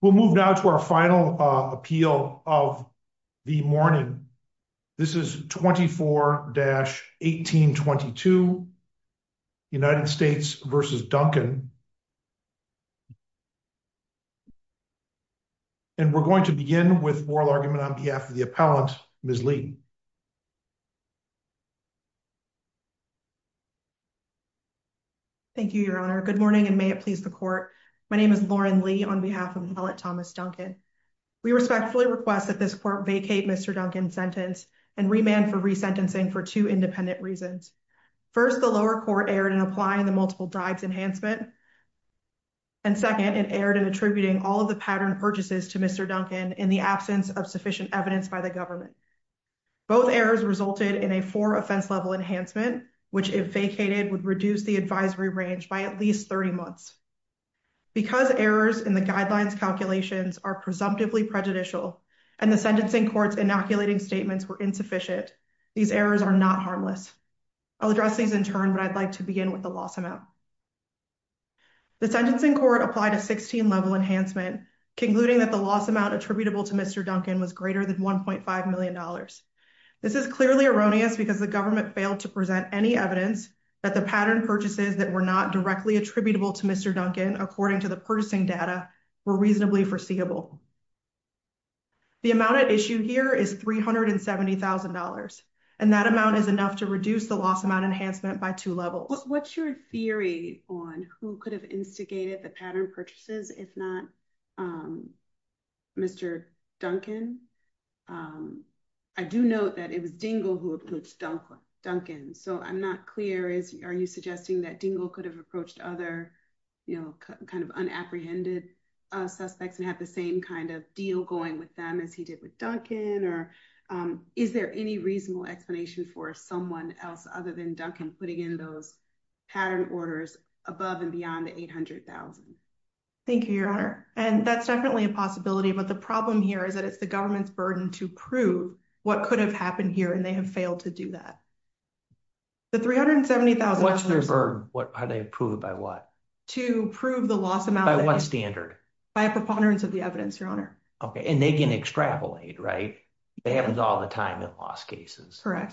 We'll move now to our final appeal of the morning. This is 24-1822, United States v. Duncan. And we're going to begin with oral argument on behalf of the appellant, Ms. Lee. Thank you, your honor. Good morning, and may it please the court. My name is Lauren Lee on behalf of the appellant, Thomas Duncan. We respectfully request that this court vacate Mr. Duncan's sentence and remand for resentencing for two independent reasons. First, the lower court erred in applying the multiple dives enhancement. And second, it erred in attributing all of the pattern purchases to Mr. Duncan in the absence of sufficient evidence by the government. Both errors resulted in a four offense level enhancement, which if vacated would reduce the advisory range by at least 30 months. Because errors in the guidelines calculations are presumptively prejudicial, and the sentencing court's inoculating statements were insufficient, these errors are not harmless. I'll address these in turn, but I'd like to begin with the loss amount. The sentencing court applied a 16 level enhancement, concluding that the loss amount attributable to Mr. Duncan was greater than $1.5 million. This is clearly erroneous because the government failed to present any evidence that the pattern purchases that were not directly attributable to Mr. Duncan, according to the purchasing data, were reasonably foreseeable. The amount at issue here is $370,000. And that amount is enough to reduce the loss amount enhancement by two levels. What's your theory on who could have instigated the pattern purchases, if not Mr. Duncan? I do note that it was Dingell who approached Duncan. So I'm not clear, are you suggesting that Dingell could have approached other unapprehended suspects and had the same kind of deal going with them as he did with Duncan? Or is there any reasonable explanation for someone else other than Duncan putting in those pattern orders above and beyond the $800,000? Thank you, Your Honor. And that's definitely a possibility. But the problem here is that it's the government's burden to prove what could have happened here, and they have failed to do that. The $370,000. What's their burden? Are they approved by what? To prove the loss amount. By what standard? By a preponderance of the evidence, Your Honor. And they can extrapolate, right? That happens all the time in loss cases. OK.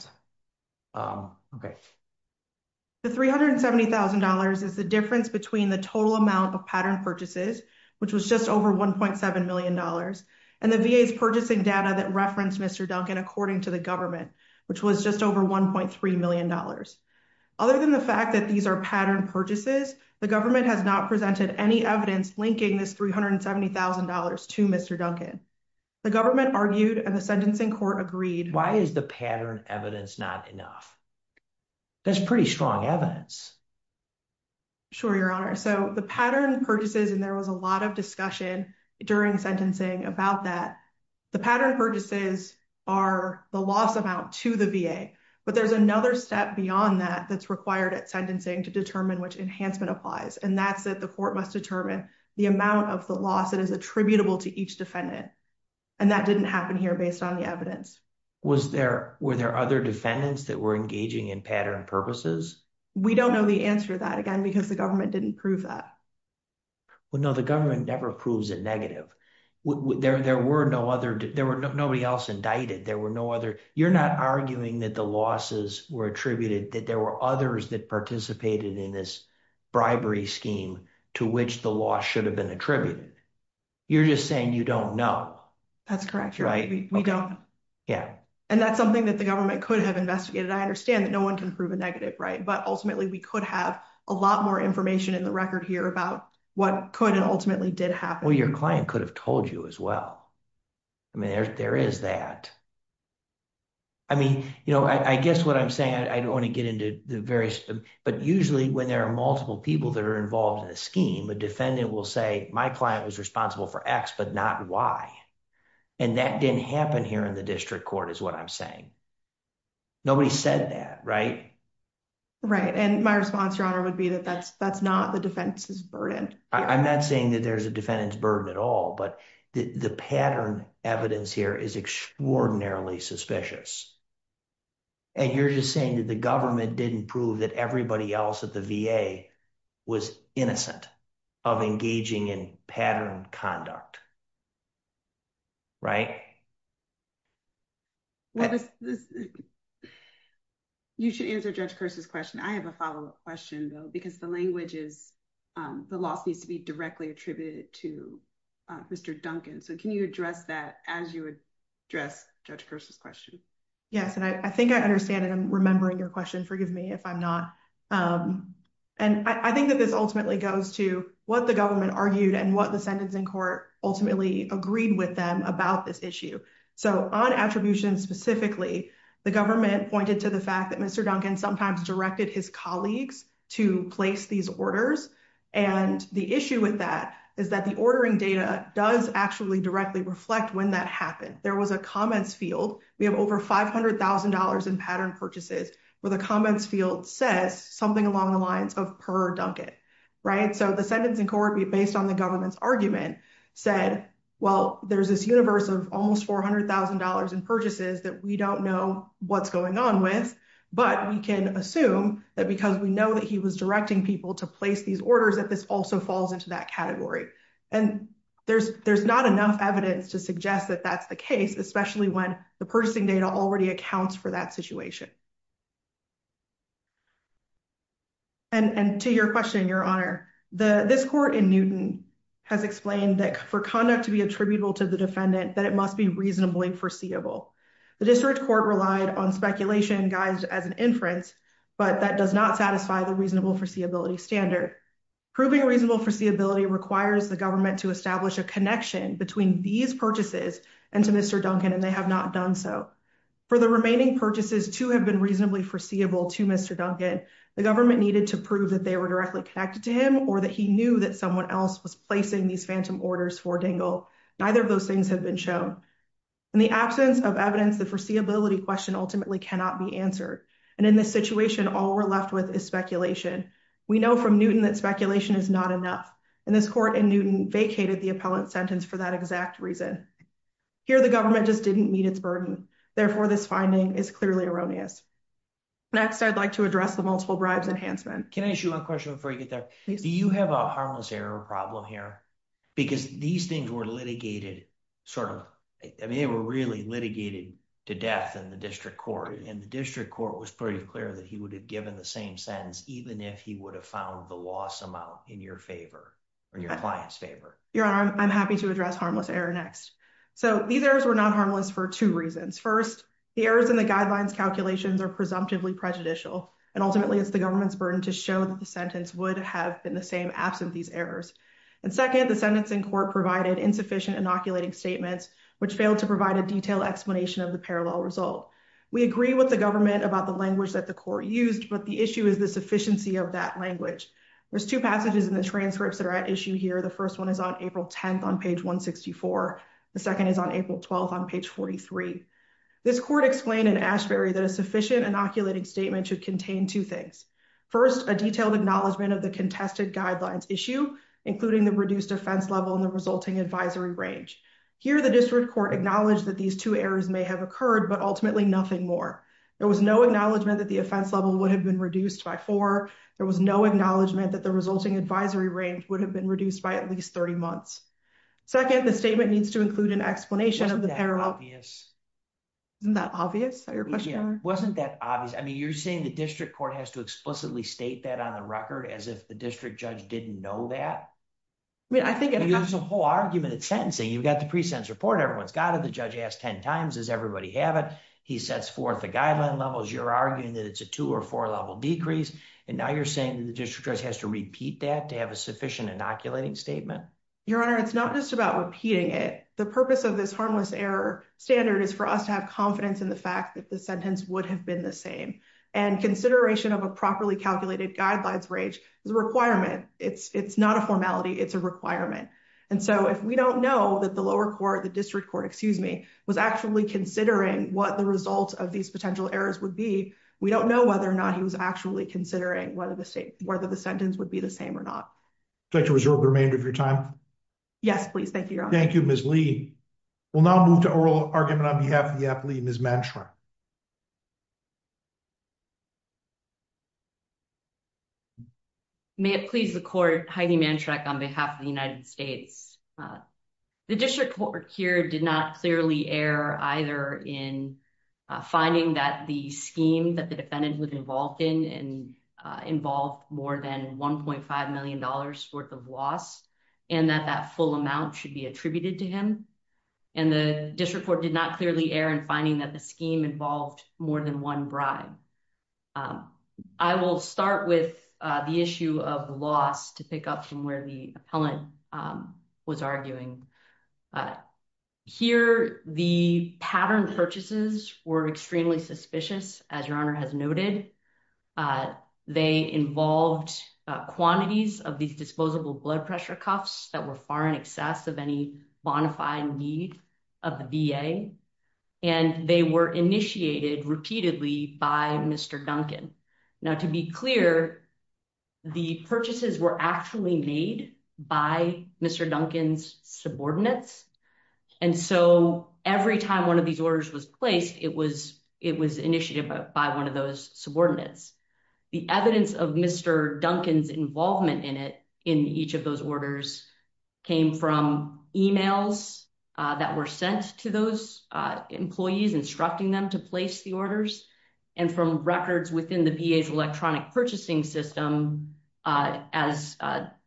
The $370,000 is the difference between the total amount of pattern purchases, which was just over $1.7 million, and the VA's purchasing data that referenced Mr. Duncan, according to the government, which was just over $1.3 million. Other than the fact that these are pattern purchases, the government has not presented any evidence linking this $370,000 to Mr. Duncan. The government argued, and the sentencing court agreed. Why is the pattern evidence not enough? That's pretty strong evidence. Sure, Your Honor. So the pattern purchases, and there was a lot of discussion during sentencing about that. The pattern purchases are the loss amount to the VA. But there's another step beyond that that's required at sentencing to determine which enhancement applies. And that's that the court must determine the amount of the loss that is attributable to each defendant. And that didn't happen here based on the evidence. Were there other defendants that were engaging in pattern purposes? We don't know the answer to that, again, because the government didn't prove that. Well, no, the government never proves a negative. There were no other. There were nobody else indicted. There were no other. You're not arguing that the losses were attributed, that there were others that participated in this bribery scheme to which the loss should have been attributed. You're just saying you don't know. That's correct, Your Honor. We don't. Yeah. And that's something that the government could have investigated. I understand that no one can prove a negative, right? But ultimately, we could have a lot more information in the record here about what could and ultimately did happen. Well, your client could have told you as well. I mean, there is that. I mean, I guess what I'm saying, I don't want to get into the various, but usually when there are multiple people that are involved in a scheme, a defendant will say my client was responsible for x but not y. And that didn't happen here in the district court is what I'm saying. Nobody said that, right? Right, and my response, Your Honor, would be that that's not the defendant's burden. I'm not saying that there's a defendant's burden at all, but the pattern evidence here is extraordinarily suspicious. And you're just saying that the government didn't prove that everybody else at the VA was innocent of engaging in patterned conduct, right? You should answer Judge Kerse's question. I have a follow-up question, though, because the language is the loss needs to be directly attributed to Mr. Duncan. So can you address that as you address Judge Kerse's question? Yes, and I think I understand it. I'm remembering your question. Forgive me if I'm not. And I think that this ultimately goes to what the government argued and what the sentencing court ultimately agreed with them about this issue. So on attribution specifically, the government pointed to the fact that Mr. Duncan sometimes directed his colleagues to place these orders. And the issue with that is that the ordering data does actually directly reflect when that happened. There was a comments field. We have over $500,000 in pattern purchases where the comments field says something along the lines of per Duncan, right? So the sentencing court, based on the government's argument, said, well, there's this universe of almost $400,000 in purchases that we don't know what's going on with, but we can assume that because we know that he was directing people to place these orders that this also falls into that category. And there's not enough evidence to suggest that that's the case, especially when the purchasing data already accounts for that situation. And to your question, Your Honor, this court in Newton has explained that for conduct to be attributable to the defendant that it must be reasonably foreseeable. The district court relied on speculation guised as an inference, but that does not satisfy the reasonable foreseeability standard. Proving reasonable foreseeability requires the government to establish a connection between these purchases and to Mr. Duncan, and they have not done so. For the remaining purchases to have been reasonably foreseeable to Mr. Duncan, the government needed to prove that they were directly connected to him or that he knew that someone else was placing these phantom orders for Dingell. Neither of those things have been shown. In the absence of evidence, the foreseeability question ultimately cannot be answered. And in this situation, all we're left with is speculation. We know from Newton that speculation is not enough. And this court in Newton vacated the appellant sentence for that exact reason. Here, the government just didn't meet its burden. Therefore, this finding is clearly erroneous. Next, I'd like to address the multiple bribes enhancement. Can I ask you one question before you get there? Do you have a harmless error problem here? Because these things were litigated sort of, I mean, they were really litigated to death in the district court, and the district court was pretty clear that he would have given the same sentence even if he would have found the loss amount in your favor or your client's favor. Your Honor, I'm happy to address harmless error next. So these errors were not harmless for two reasons. First, the errors in the guidelines calculations are presumptively prejudicial, and ultimately it's the government's burden to show that the sentence would have been the same absent these errors. And second, the sentencing court provided insufficient inoculating statements, which failed to provide a detailed explanation of the parallel result. We agree with the government about the language that the court used, but the issue is the sufficiency of that language. There's two passages in the transcripts that are at issue here. The first one is on April 10th on page 164. The second is on April 12th on page 43. This court explained in Ashbery that a sufficient inoculating statement should contain two things. First, a detailed acknowledgement of the contested guidelines issue, including the reduced offense level and the resulting advisory range. Here, the district court acknowledged that these two errors may have occurred, but ultimately nothing more. There was no acknowledgement that the offense level would have been reduced by four. There was no acknowledgement that the resulting advisory range would have been reduced by at least 30 months. Second, the statement needs to include an explanation of the parallel. Isn't that obvious? Wasn't that obvious? I mean, you're saying the district court has to explicitly state that on the record as if the district judge didn't know that? I mean, I think- There's a whole argument at sentencing. You've got the pre-sentence report. Everyone's got it. The judge asked 10 times. Does everybody have it? He sets forth the guideline levels. You're arguing that it's a two or four level decrease. And now you're saying the district judge has to repeat that to have a sufficient inoculating statement? Your Honor, it's not just about repeating it. The purpose of this harmless error standard is for us to have confidence in the fact that the sentence would have been the same. And consideration of a properly calculated guidelines range is a requirement. It's not a formality. It's a requirement. And so if we don't know that the lower court, the district court, excuse me, was actually considering what the results of these potential errors would be, we don't know whether or not he was actually considering whether the sentence would be the same or not. Would you like to reserve the remainder of your time? Yes, please. Thank you, Your Honor. Thank you, Ms. Lee. We'll now move to oral argument on behalf of the athlete, Ms. Manshaw. May it please the court, Heidi Manshaw, on behalf of the United States. The district court here did not clearly err either in finding that the scheme that the defendant was involved in and involved more than $1.5 million worth of loss and that that full amount should be attributed to him. And the district court did not clearly err in finding that the scheme involved more than one bribe. I will start with the issue of the loss to pick up from where the appellant was arguing. Here, the pattern purchases were extremely suspicious, as Your Honor has noted. They involved quantities of these disposable blood pressure cuffs that were far in excess of any bonafide need of the VA. And they were initiated repeatedly by Mr. Duncan. Now, to be clear, the purchases were actually made by Mr. Duncan's subordinates. And so every time one of these orders was placed, it was initiated by one of those subordinates. The evidence of Mr. Duncan's involvement in it in each of those orders came from emails that were sent to those employees, instructing them to place the orders and from records within the VA's electronic purchasing system, as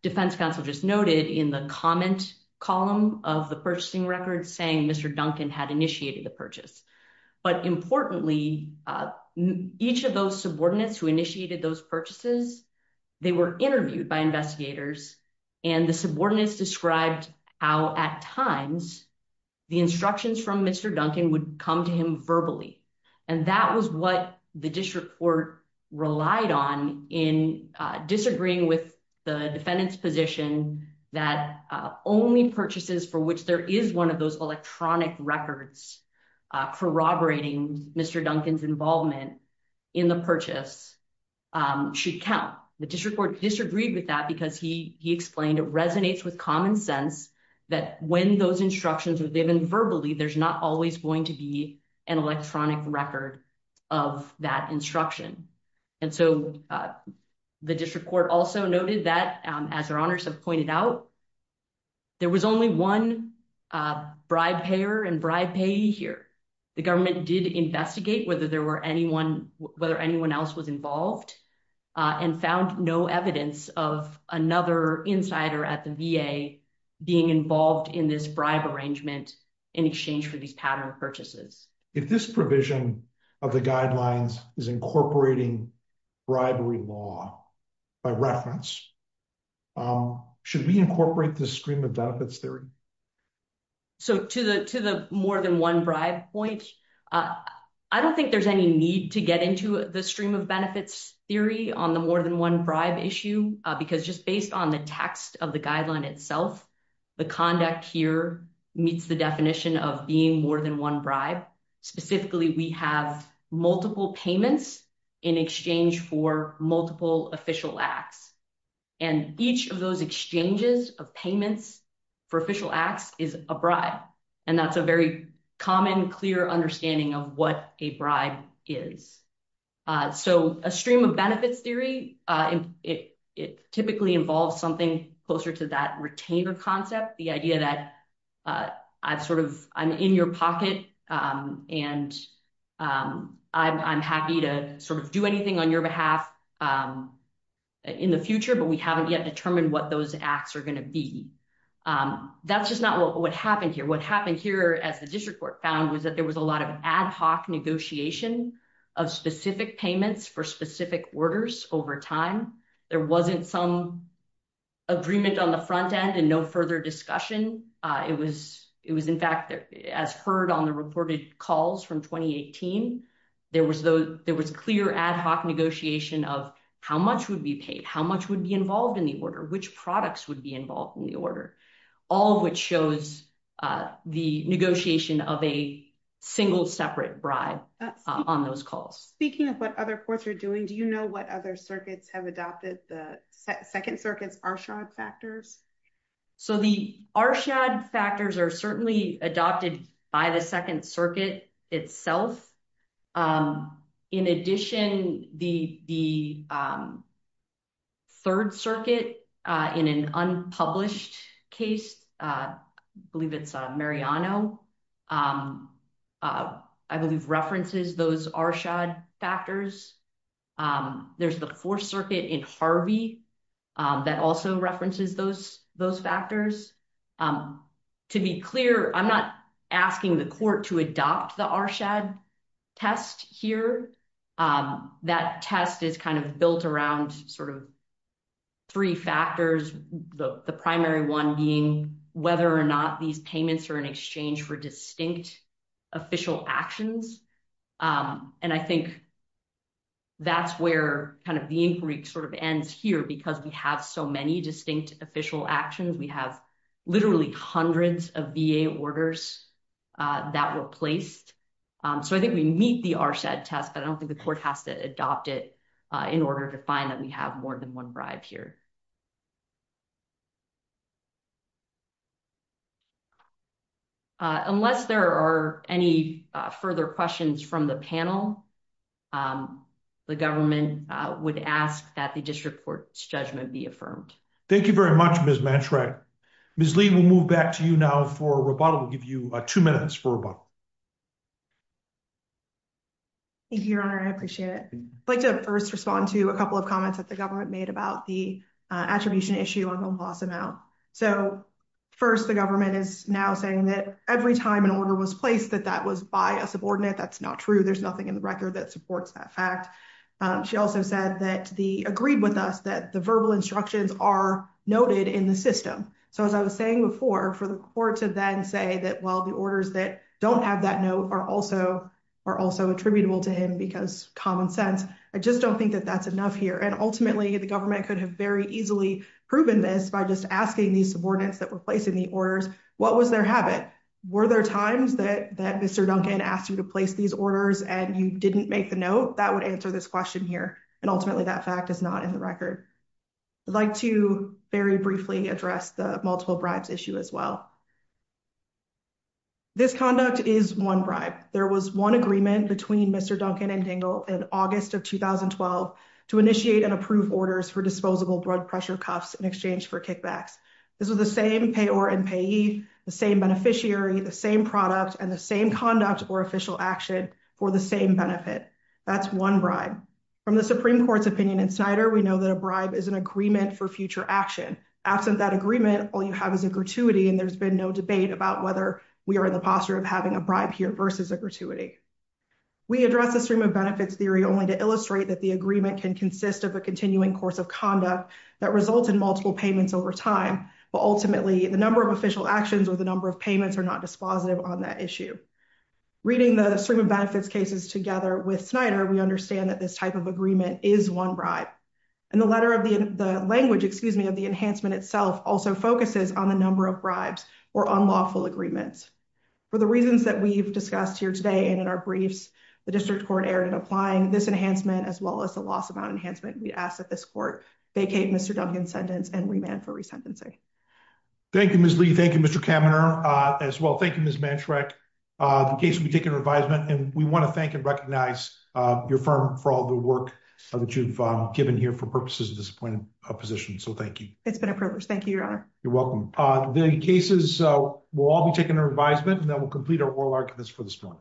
defense counsel just noted in the comment column of the purchasing records saying Mr. Duncan had initiated the purchase. But importantly, each of those subordinates who initiated those purchases, they were interviewed by investigators and the subordinates described how at times the instructions from Mr. Duncan would come to him verbally. And that was what the district court relied on in disagreeing with the defendant's position that only purchases for which there is one of those electronic records corroborating Mr. Duncan's involvement in the purchase should count. The district court disagreed with that because he explained it resonates with common sense that when those instructions were given verbally, there's not always going to be an electronic record of that instruction. And so the district court also noted that as your honors have pointed out, there was only one bribe payer and bribe payee here. The government did investigate whether there were anyone, whether anyone else was involved and found no evidence of another insider at the VA being involved in this bribe arrangement in exchange for these pattern of purchases. If this provision of the guidelines is incorporating bribery law by reference, should we incorporate the stream of benefits theory? So to the more than one bribe point, I don't think there's any need to get into the stream of benefits theory on the more than one bribe issue because just based on the text of the guideline itself, the conduct here meets the definition of being more than one bribe. Specifically, we have multiple payments in exchange for multiple official acts. And each of those exchanges of payments for official acts is a bribe. And that's a very common clear understanding of what a bribe is. So a stream of benefits theory, it typically involves something closer to that retainer concept, the idea that I'm in your pocket and I'm happy to do anything on your behalf in the future, but we haven't yet determined what those acts are gonna be. That's just not what happened here. What happened here as the district court found was that there was a lot of ad hoc negotiation of specific payments for specific orders over time. There wasn't some agreement on the front end and no further discussion. It was in fact, as heard on the reported calls from 2018, there was clear ad hoc negotiation of how much would be paid, how much would be involved in the order, which products would be involved in the order, all of which shows the negotiation of a single separate bribe on those calls. Speaking of what other courts are doing, do you know what other circuits have adopted the second circuit's R-shod factors? So the R-shod factors are certainly adopted by the second circuit itself. In addition, the third circuit in an unpublished case, believe it's Mariano, I believe references those R-shod factors. There's the fourth circuit in Harvey that also references those factors. To be clear, I'm not asking the court to adopt the R-shod test here. That test is kind of built around sort of three factors, the primary one being whether or not these payments are in exchange for distinct official actions. And I think that's where kind of the inquiry sort of ends here because we have so many distinct official actions. We have literally hundreds of VA orders that were placed. So I think we meet the R-shod test, but I don't think the court has to adopt it in order to find that we have more than one bribe here. Thank you. Unless there are any further questions from the panel, the government would ask that the district court's judgment be affirmed. Thank you very much, Ms. Matrack. Ms. Lee, we'll move back to you now for rebuttal. We'll give you two minutes for rebuttal. Thank you, Your Honor. I appreciate it. I'd like to first respond to a couple of comments that the government made about the attribution issue on Don't Boss Him Out. So first, the government is now saying that every time an order was placed, that that was by a subordinate, that's not true. There's nothing in the record that supports that fact. She also said that the agreed with us that the verbal instructions are noted in the system. So as I was saying before, for the court to then say that while the orders that don't have that note are also attributable to him because common sense, I just don't think that that's enough here. And ultimately, the government could have very easily proven this by just asking these subordinates that were placing the orders, what was their habit? Were there times that Mr. Duncan asked you to place these orders and you didn't make the note? That would answer this question here. And ultimately, that fact is not in the record. I'd like to very briefly address the multiple bribes issue as well. This conduct is one bribe. There was one agreement between Mr. Duncan and Dingell in August of 2012 to initiate and approve orders for disposable blood pressure cuffs in exchange for kickbacks. This was the same payor and payee, the same beneficiary, the same product, and the same conduct or official action for the same benefit. That's one bribe. From the Supreme Court's opinion in Snyder, we know that a bribe is an agreement for future action. Absent that agreement, all you have is a gratuity and there's been no debate about whether we are in the posture of having a bribe here versus a gratuity. We address the stream of benefits theory only to illustrate that the agreement can consist of a continuing course of conduct that results in multiple payments over time. But ultimately, the number of official actions or the number of payments are not dispositive on that issue. Reading the stream of benefits cases together with Snyder, we understand that this type of agreement is one bribe. And the letter of the language, excuse me, of the enhancement itself also focuses on the number of bribes or unlawful agreements. For the reasons that we've discussed here today and in our briefs, the district court erred in applying this enhancement as well as the loss of our enhancement. We ask that this court vacate Mr. Duncan's sentence and remand for resentencing. Thank you, Ms. Lee. Thank you, Mr. Kaminer, as well. Thank you, Ms. Manchrek. The case will be taken to revisement and we wanna thank and recognize your firm for all the work that you've given here for purposes of this point of position. So thank you. It's been a privilege. Thank you, Your Honor. You're welcome. The cases will all be taken to revisement and then we'll complete our oral arguments for this point.